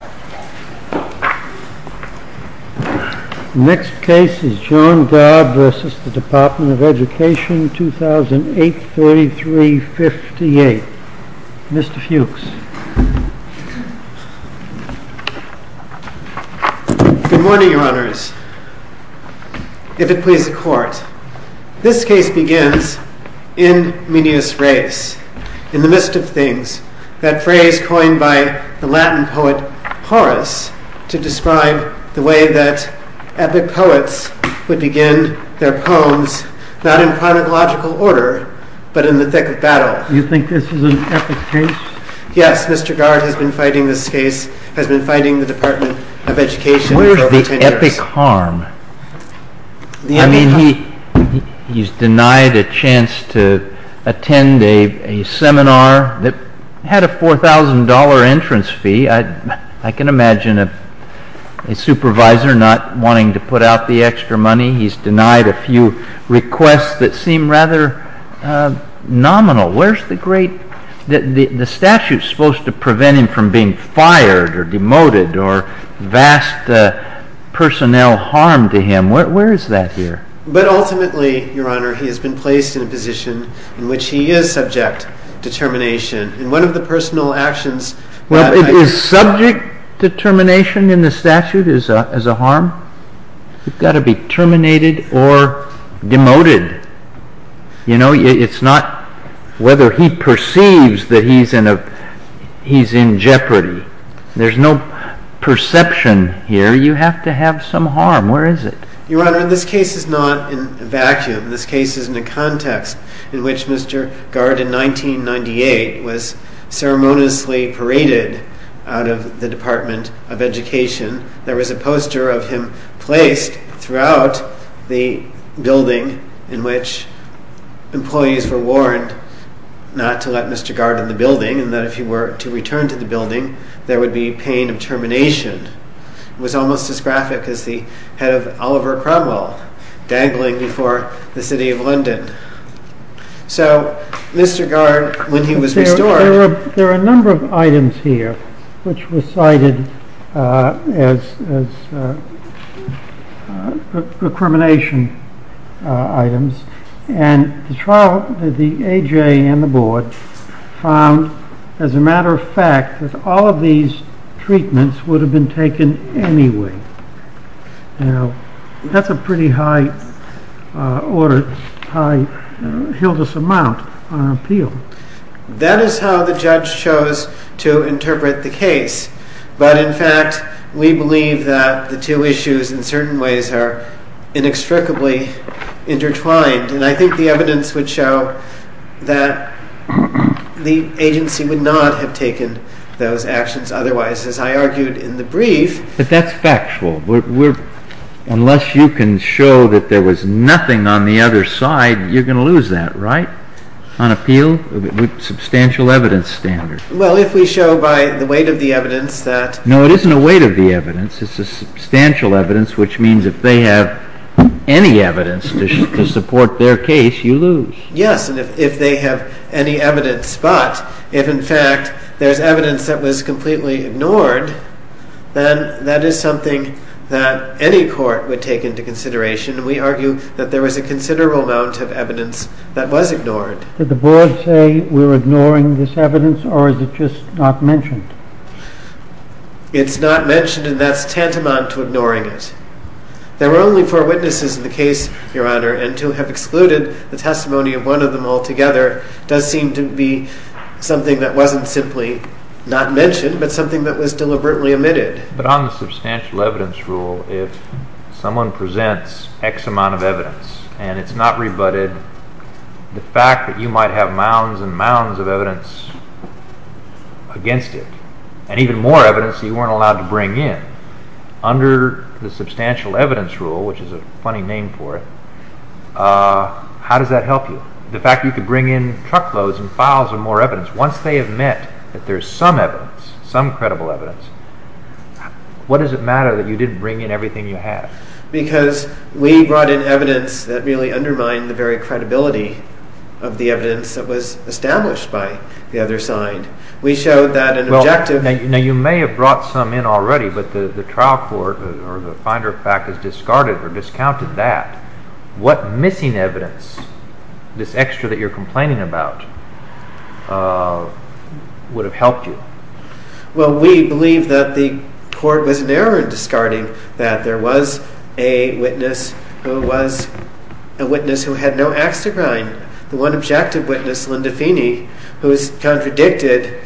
Good morning, Your Honors. If it please the Court, this case begins, In menius res, in Horace, to describe the way that epic poets would begin their poems, not in chronological order, but in the thick of battle. You think this is an epic case? Yes, Mr. Gard has been fighting this case, has been fighting the Department of Education for over ten years. Where is the epic harm? I mean, he's denied a chance to attend a seminar that had a $4,000 entrance fee. I can imagine a supervisor not wanting to put out the extra money. He's denied a few requests that seem rather nominal. Where's the great, the statute's supposed to prevent him from being fired or demoted or vast personnel harm to him. Where is that here? But ultimately, Your Honor, he has been placed in a position in which he is subject to determination. And one of the personal actions that I... Well, is subject to determination in the statute is a harm? He's got to be terminated or demoted. You know, it's not whether he perceives that he's in a, he's in jeopardy. There's no perception here. You have to have some harm. Where is it? Your Honor, this case is not in a vacuum. This case is in a context in which Mr. Gard in 1998 was ceremoniously paraded out of the Department of Education. There was a poster of him placed throughout the building in which employees were warned not to let Mr. Gard in the building and that if he were to return to the building, there would be pain of termination. It was almost as graphic as the head of Oliver Cromwell dangling before the City of London. So, Mr. Gard, when he was restored... There are a number of items here which were cited as procrimination items. And the trial, the AJ and the board found, as a matter of fact, that all of these treatments would have been taken anyway. Now, that's a pretty high order, high Hildas amount on appeal. That is how the judge chose to interpret the case. But in fact, we believe that the two issues in certain ways are inextricably intertwined. And I think the evidence would show that the agency would not have taken those actions otherwise, as I argued in the brief. But that's factual. Unless you can show that there was nothing on the other side, you're going to lose that, right? On appeal, substantial evidence standard. Well, if we show by the weight of the evidence that... No, it isn't a weight of the evidence. It's a substantial evidence, which means if they have any evidence to support their case, you lose. Yes, and if they have any evidence, but if in fact there's evidence that was completely ignored, then that is something that any court would take into consideration. And we argue that there was a considerable amount of evidence that was ignored. Did the board say we're ignoring this evidence or is it just not mentioned? It's not mentioned and that's tantamount to ignoring it. There were only four witnesses in the case, Your Honor, and to have excluded the testimony of one of them all together does seem to be something that wasn't simply not mentioned, but something that was deliberately omitted. But on the substantial evidence rule, if someone presents X amount of evidence and it's not rebutted, the fact that you might have mounds and mounds of evidence against it, and even more evidence you weren't allowed to bring in, under the substantial evidence rule, which is a funny name for it, how does that help you? The fact you could bring in truckloads and files of more evidence, once they have met that there's some evidence, some credible evidence, what does it matter that you didn't bring in everything you have? Because we brought in evidence that really undermined the very credibility of the evidence that was established by the other side. We showed that an objective... Now, you may have brought some in already, but the trial court or the finder of fact has discarded or discounted that. What missing evidence, this extra that you're complaining about, would have helped you? Well, we believe that the court was narrow in discarding that there was a witness who had no axe to grind. The one objective witness, Linda Feeney, who has contradicted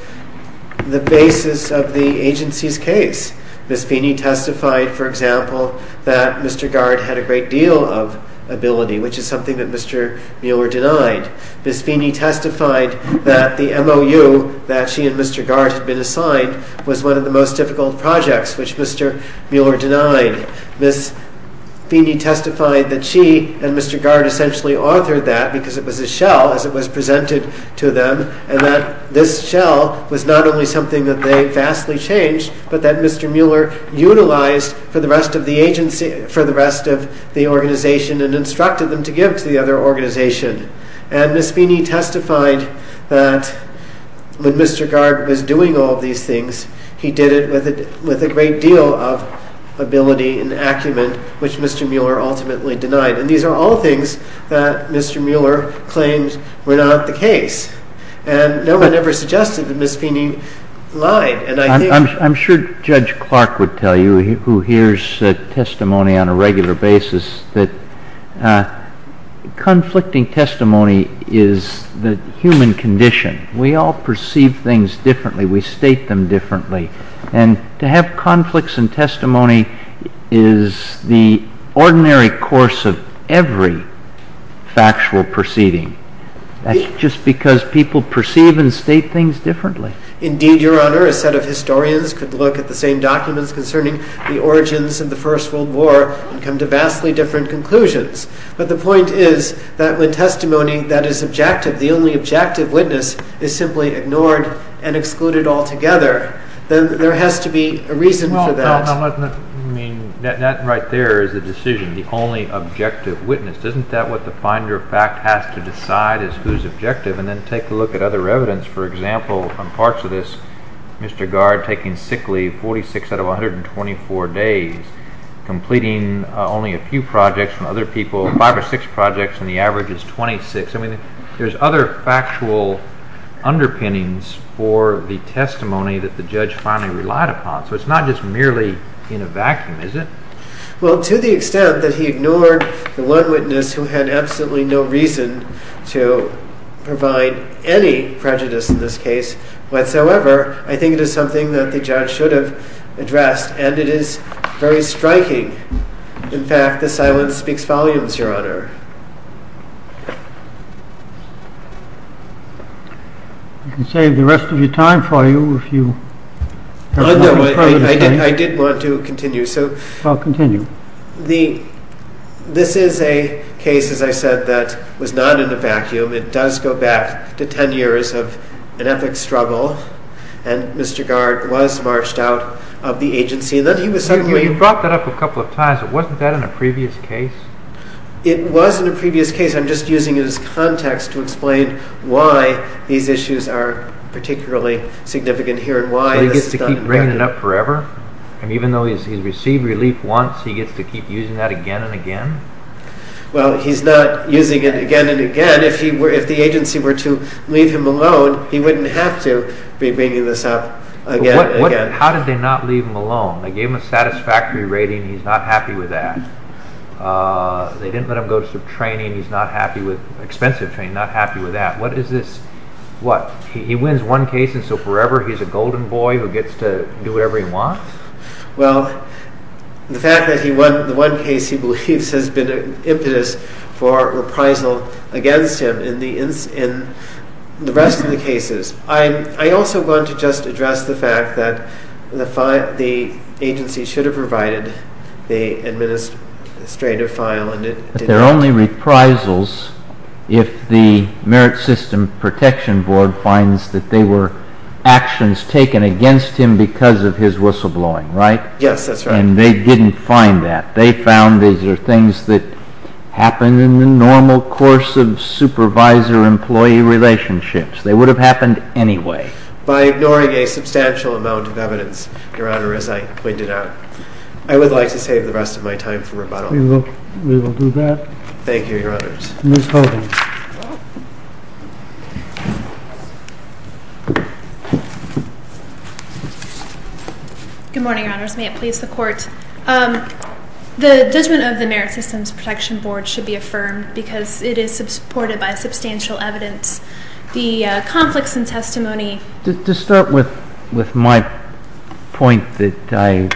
the basis of the agency's case. Ms. Feeney testified, for example, that Mr. Gard had a great deal of ability, which is something that Mr. Mueller denied. Ms. Feeney testified that the MOU that she and Mr. Gard had been assigned was one of the most Ms. Feeney testified that she and Mr. Gard essentially authored that because it was a shell as it was presented to them, and that this shell was not only something that they vastly changed, but that Mr. Mueller utilized for the rest of the agency, for the rest of the organization, and instructed them to give to the other organization. And Ms. Feeney testified that when Mr. Gard was doing all these things, he did it with a great deal of ability and acumen, which Mr. Mueller ultimately denied. And these are all things that Mr. Mueller claimed were not the case. And no one ever suggested that Ms. Feeney lied. I'm sure Judge Clark would tell you, who hears testimony on a regular basis, that conflicting testimony is the human condition. We all perceive things differently. We state them differently. And to have conflicts in testimony is the ordinary course of every factual proceeding. That's just because people perceive and state things differently. Indeed, Your Honor, a set of historians could look at the same documents concerning the origins of the First World War and come to vastly different conclusions. But the point is that when testimony that is objective, the only objective witness, is simply ignored and excluded altogether, then there has to be a reason for that. Well, now, that right there is the decision, the only objective witness. Isn't that what the finder of fact has to decide is who's objective? And then take a look at other evidence. For example, on parts of this, Mr. Gard taking sick leave, 46 out of 124 days, completing only a few projects from other people, five or six projects, and the average is 26. I mean, there's other factual underpinnings for the testimony that the judge finally relied upon. So it's not just merely in a vacuum, is it? Well, to the extent that he ignored the one witness who had absolutely no reason to provide any prejudice in this case whatsoever, I think it is something that the judge should have addressed, and it is very striking. In fact, the silence speaks volumes, Your Honor. I can save the rest of your time for you if you have more to say. No, I did want to continue. I'll continue. This is a case, as I said, that was not in a case where Mr. Gard was marched out of the agency. You brought that up a couple of times, but wasn't that in a previous case? It was in a previous case. I'm just using it as context to explain why these issues are particularly significant here and why this is done. So he gets to keep bringing it up forever? And even though he's received relief once, he gets to keep using that again and again? Well, he's not using it again and again. If the agency were to leave him alone, he wouldn't have to be bringing this up again and again. How did they not leave him alone? They gave him a satisfactory rating. He's not happy with that. They didn't let him go to some training. He's not happy with expensive training, not happy with that. What is this? He wins one case, and so forever he's a golden boy who gets to do whatever he wants? Well, the fact that he won the case he believes has been impetus for reprisal against him in the rest of the cases. I also want to just address the fact that the agency should have provided the administrative file. They're only reprisals if the Merit System Protection Board finds that they were actions taken against him because of his whistleblowing, right? Yes, that's right. And they didn't find that. They found these are things that happen in the normal course of supervisor-employee relationships. They would have happened anyway. By ignoring a substantial amount of evidence, Your Honor, as I pointed out, I would like to save the rest of my time for rebuttal. We will do that. Thank you, Your Honors. Ms. Hogan. Good morning, Your Honors. May it please the Court. The judgment of the Merit Systems Protection Board should be affirmed because it is supported by substantial evidence. The conflicts in testimony... To start with my point that I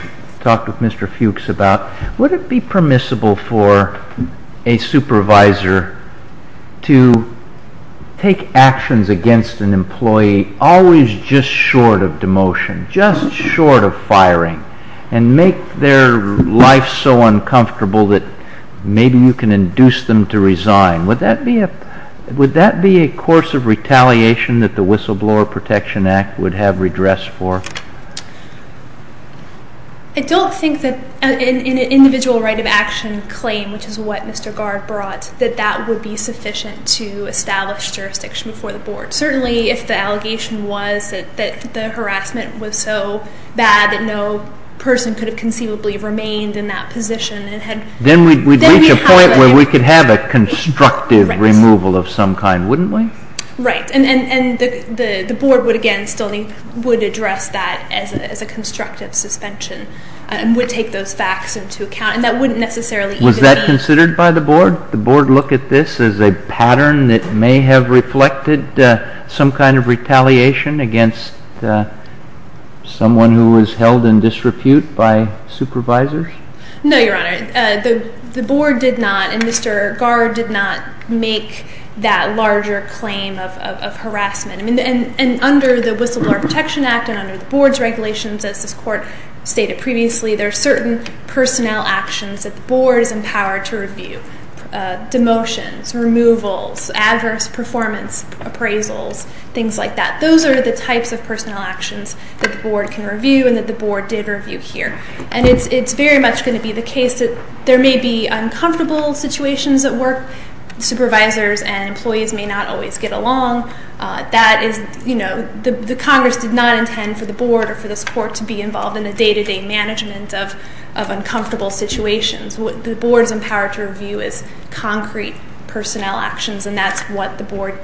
talked with Mr. Fuchs about, would it be permissible for a supervisor to take actions against an employee always just short of demotion, just short of firing, and make their life so uncomfortable that maybe you can induce them to resign? Would that be a course of retaliation that the Whistleblower Protection Act would have redress for? I don't think that an individual right of action claim, which is what Mr. Gard brought, that that would be sufficient to establish jurisdiction before the Board. Certainly, if the allegation was that the harassment was so bad that no person could have conceivably remained in that position and had... Then we'd reach a point where we could have a constructive removal of some kind, wouldn't we? Right, and the Board would again still would address that as a constructive suspension and would take those facts into account, and that wouldn't necessarily... Was that considered by the Board? The Board look at this as a pattern that may have reflected some kind of retaliation against someone who was held in disrepute by supervisors? No, Your Honor. The Board did not, and Mr. Gard did not make that larger claim of harassment. I mean, and under the Whistleblower Protection Act and under the Board's regulations, as this Court stated previously, there are certain personnel actions that the Board is empowered to review. Demotions, removals, adverse performance appraisals, things like that. Those are the types of personnel actions that the Board can review and that the Board did review here. And it's very much going to be the case that there may be uncomfortable situations at work. Supervisors and employees may not always get along. That is... The Congress did not intend for the Board or for this Court to be involved in the day-to-day management of uncomfortable situations. The Board is empowered to review as concrete personnel actions, and that's what the discovery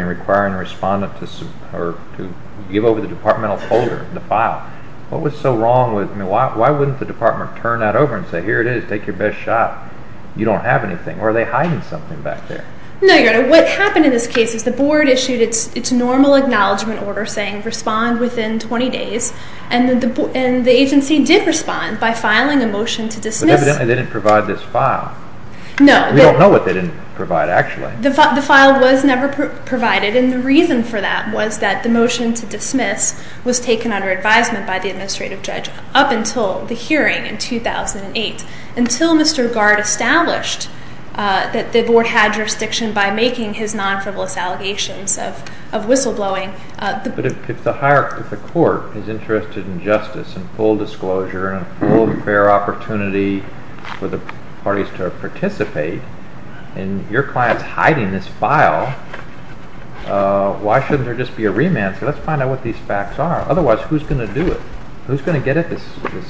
and requiring the respondent to give over the departmental folder, the file. What was so wrong with... Why wouldn't the department turn that over and say, here it is, take your best shot? You don't have anything. Or are they hiding something back there? No, Your Honor. What happened in this case is the Board issued its normal acknowledgement order saying respond within 20 days, and the agency did respond by filing a motion to dismiss. But evidently they didn't provide this file. We don't know what they didn't provide, actually. The file was never provided, and the reason for that was that the motion to dismiss was taken under advisement by the administrative judge up until the hearing in 2008, until Mr. Gard established that the Board had jurisdiction by making his non-frivolous allegations of whistleblowing. But if the Court is interested in justice and full disclosure and a full and fair opportunity for the parties to participate, and your client's hiding this file, why shouldn't there just be a remand? So let's find out what these facts are. Otherwise, who's going to do it? Who's going to get at this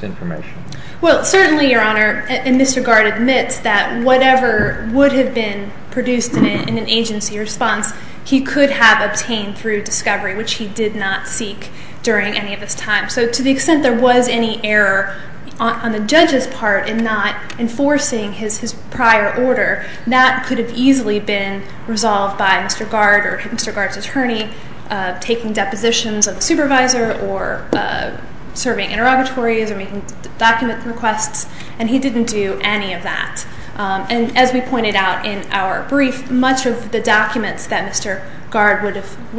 information? Well, certainly, Your Honor, Mr. Gard admits that whatever would have been produced in an agency response, he could have obtained through discovery, which he did not seek during any of his time. So to the extent there was any error on the judge's part in not enforcing his prior order, that could have easily been resolved by Mr. Gard or Mr. Gard's attorney taking depositions of the supervisor or serving interrogatories or making document requests, and he didn't do any of that. And as we pointed out in our brief, much of the documents that Mr. Gard would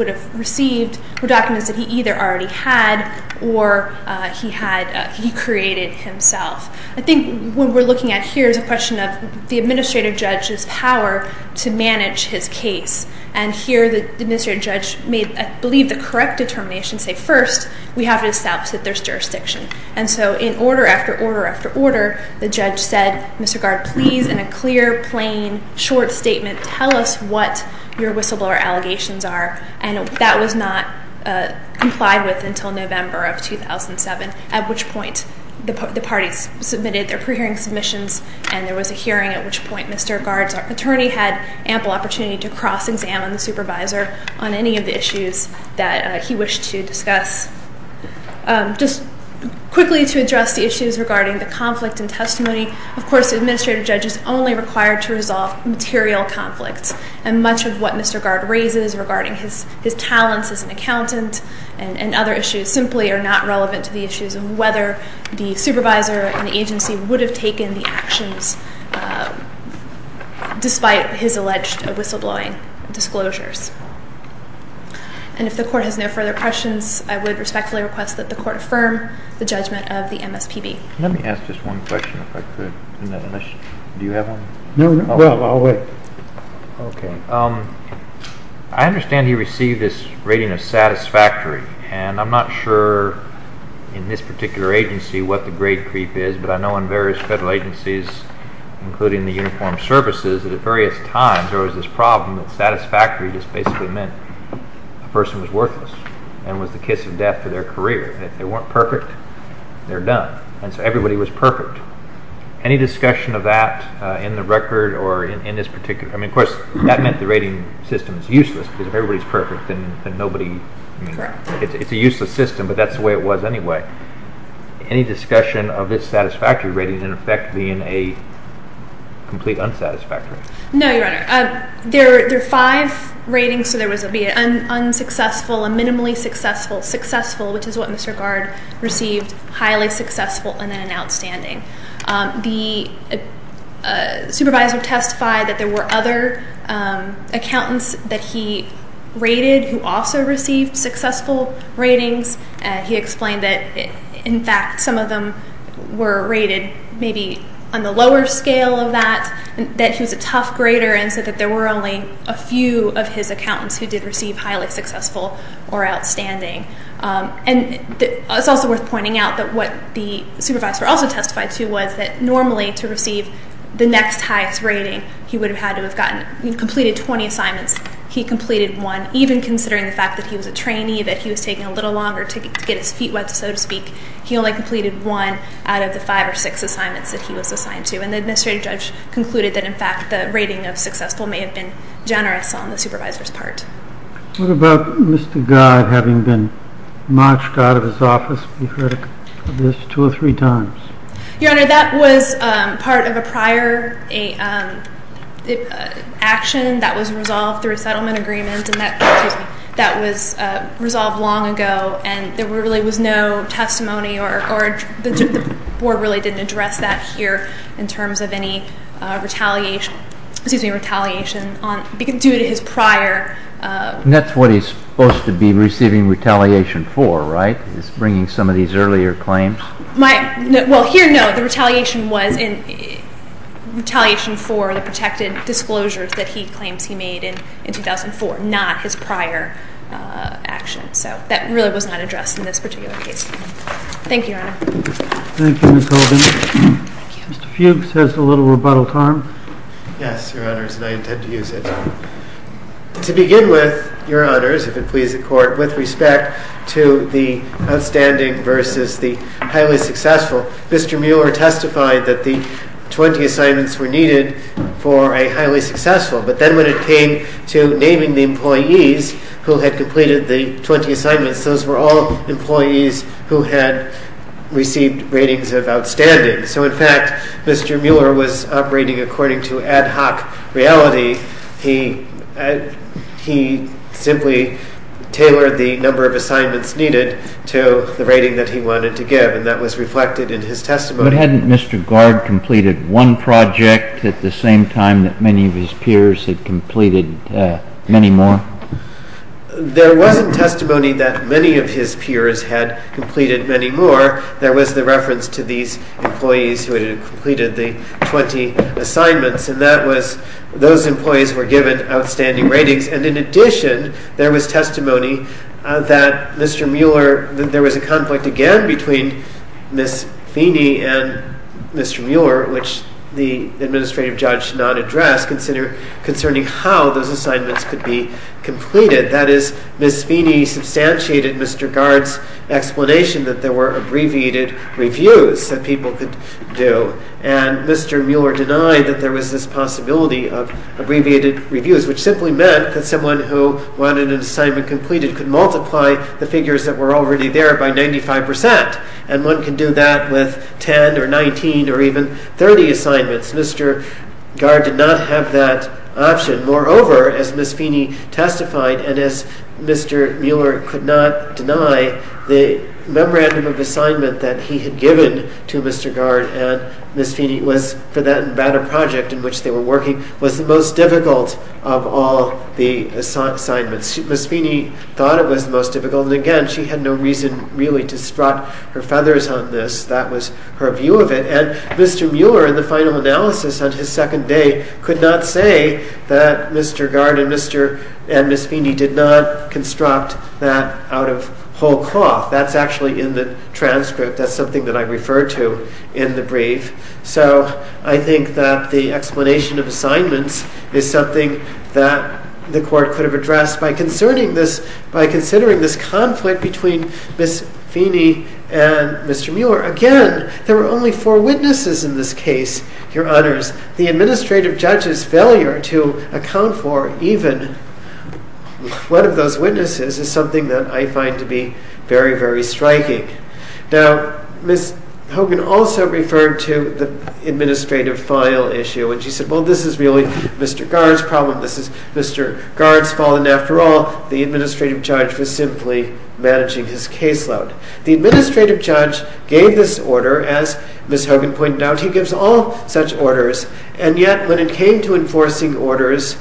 have received were documents that he either already had or he created himself. I think what we're looking at here is a question of the administrative judge's power to manage his case. And here, the administrative judge made, I believe, the correct determination to say, first, we have to establish that there's jurisdiction. And so in order after order after order, the judge said, Mr. Gard, please, in a clear, plain, short statement, tell us what your whistleblower allegations are. And that was not complied with until November of 2007, at which point the parties submitted their pre-hearing submissions, and there was a hearing at which point Mr. Gard's attorney had ample opportunity to cross-examine the supervisor on any of the issues that he wished to discuss. Just quickly to address the issues regarding the conflict in testimony, of course, the administrative judge is only required to resolve material conflicts. And much of what Mr. Gard raises regarding his talents as an accountant and other issues simply are not relevant to the issues of whether the supervisor and agency would have taken the actions despite his alleged whistleblowing disclosures. And if the court has no further questions, I would respectfully request that the court affirm the judgment of the MSPB. Let me ask just one question, if I could. Do you have one? No, I'll wait. Okay. I understand he received this rating of satisfactory, and I'm not sure in this particular agency what the grade creep is, but I know in various federal agencies, including the Uniformed Services, that at various times there was this problem that satisfactory just basically meant the person was worthless and was the kiss of death for their career. If they weren't perfect, they're done. And so everybody was perfect. Any discussion of that in the record or in this particular? Of course, that meant the rating system is useless because if everybody's perfect, then nobody, it's a useless system, but that's the way it was anyway. Any discussion of this satisfactory rating in effect being a complete unsatisfactory? No, Your Honor. There are five ratings, so there was an unsuccessful, a minimally successful. Successful, which is what Mr. Gard received, highly successful, and then an outstanding. The supervisor testified that there were other accountants that he rated who also received successful ratings. He explained that, in fact, some of them were rated maybe on the lower scale of that, that he was a tough grader and said that there were only a few of his accountants who did receive highly successful or outstanding. And it's also worth pointing out that what the supervisor also testified to was that normally to receive the next highest rating, he would have had to have completed 20 assignments. He completed one, even considering the fact that he was a trainee, that he was taking a little longer to get his feet wet, so to speak. He only completed one out of the five or six assignments that he was assigned to. And the administrative judge concluded that, in fact, the rating of successful may have been generous on the supervisor's part. What about Mr. Godd having been marched out of his office? We've heard of this two or three times. Your Honor, that was part of a prior action that was resolved through a settlement agreement and that was resolved long ago. And there really was no testimony or the board really didn't address that here in terms of any retaliation due to his prior... And that's what he's supposed to be receiving retaliation for, right, is bringing some of these earlier claims? Well, here, no. The retaliation was retaliation for the protected disclosures that he claims he made in 2004, not his prior action. So that really was not addressed in this particular case. Thank you, Your Honor. Thank you, Ms. Holden. Mr. Fuchs has a little rebuttal time. Yes, Your Honors, and I intend to use it. To begin with, Your Honors, if it pleases the Court, with respect to the outstanding versus the highly successful, Mr. Mueller testified that the 20 assignments were needed for a highly successful. But then when it came to naming the employees who had completed the 20 assignments, those were all employees who had received ratings of outstanding. So in fact, Mr. Mueller was operating according to ad hoc reality. He simply tailored the number of assignments needed to the rating that he wanted to give, and that was reflected in his testimony. But hadn't Mr. Gard completed one project at the same time that many of his peers had completed many more? There wasn't testimony that many of his peers had completed many more. There was the reference to these employees who had completed the 20 assignments, and that was those employees were given outstanding ratings. And in addition, there was testimony that Mr. Mueller, that there was a conflict again between Ms. Feeney and Mr. Mueller, which the administrative judge did not address, concerning how those assignments could be completed. That is, Ms. Feeney substantiated Mr. Gard's explanation that there were abbreviated reviews that people could do, and Mr. Mueller denied that there was this possibility of abbreviated reviews, which simply meant that someone who wanted an assignment completed could multiply the figures that were already there by 95%, and one could do that with 10 or 19 or even 30 assignments. Mr. Gard did not have that option. Moreover, as Ms. Feeney testified, and as Mr. Mueller could not deny, the memorandum of assignment that he had given to Mr. Gard and Ms. Feeney was for that Nevada project in which they were working was the most difficult of all the assignments. Ms. Feeney thought it was the most difficult, and again, she had no reason really to sprout her feathers on this. That was her view of it. Mr. Mueller in the final analysis on his second day could not say that Mr. Gard and Ms. Feeney did not construct that out of whole cloth. That's actually in the transcript. That's something that I referred to in the brief. So I think that the explanation of assignments is something that the court could have addressed by considering this conflict between Ms. Feeney and Mr. Mueller. Again, there were only four witnesses in this case, your honors. The administrative judge's failure to account for even one of those witnesses is something that I find to be very, very striking. Now, Ms. Hogan also referred to the administrative file issue, and she said, well, this is really Mr. Gard's problem. This is Mr. Gard's fault, and after all, the administrative judge was simply managing his caseload. The administrative judge gave this order, as Ms. Hogan pointed out. He gives all such orders, and yet when it came to enforcing orders,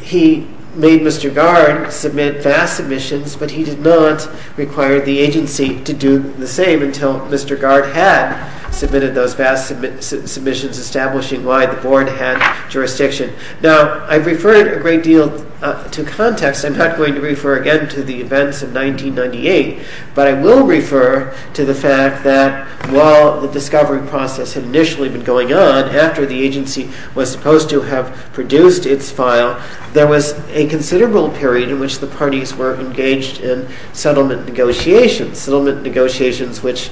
he made Mr. Gard submit vast submissions, but he did not require the agency to do the same until Mr. Gard had submitted those vast submissions establishing why the board had jurisdiction. Now, I've referred a great deal to context. I'm not going to refer again to the events of 1998, but I will refer to the fact that while the discovery process had initially been going on after the agency was supposed to have produced its file, there was a considerable period in which the parties were engaged in settlement negotiations, settlement negotiations which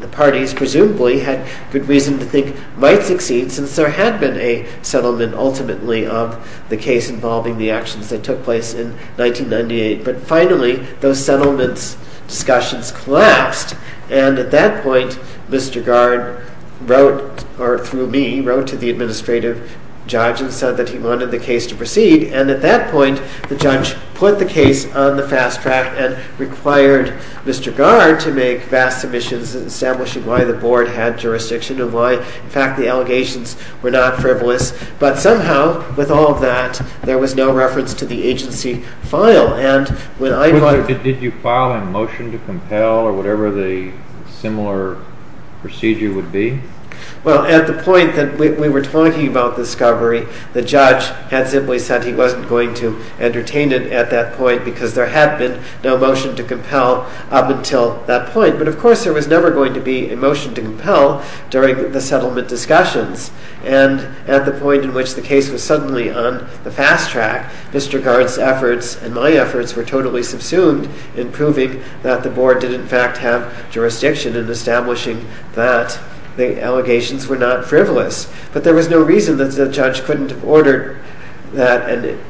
the parties presumably had good reason to think might succeed since there had been a settlement ultimately of the case involving the actions that took place in 1998, but finally, those settlement discussions collapsed, and at that point, Mr. Gard wrote, or through me, wrote to the administrative judge and said that he wanted the case to proceed, and at that point, the judge put the case on the fast track and required Mr. Gard to make vast submissions establishing why the board had jurisdiction and why, in fact, the allegations were not frivolous, but somehow, with all that, there was no reference to the agency file, and when I find... Did you file a motion to compel or whatever the similar procedure would be? Well, at the point that we were talking about discovery, the judge had simply said he wasn't going to entertain it at that point because there had been no motion to compel up until that point, but of course, there was never going to be a motion to compel during the fast track. Mr. Gard's efforts and my efforts were totally subsumed in proving that the board did, in fact, have jurisdiction in establishing that the allegations were not frivolous, but there was no reason that the judge couldn't have ordered that an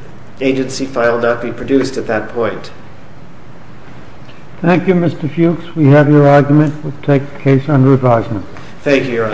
agency file not be produced at that point. Thank you, Mr. Fuchs. We have your argument. We'll take the case under advisement. Thank you, Your Honors.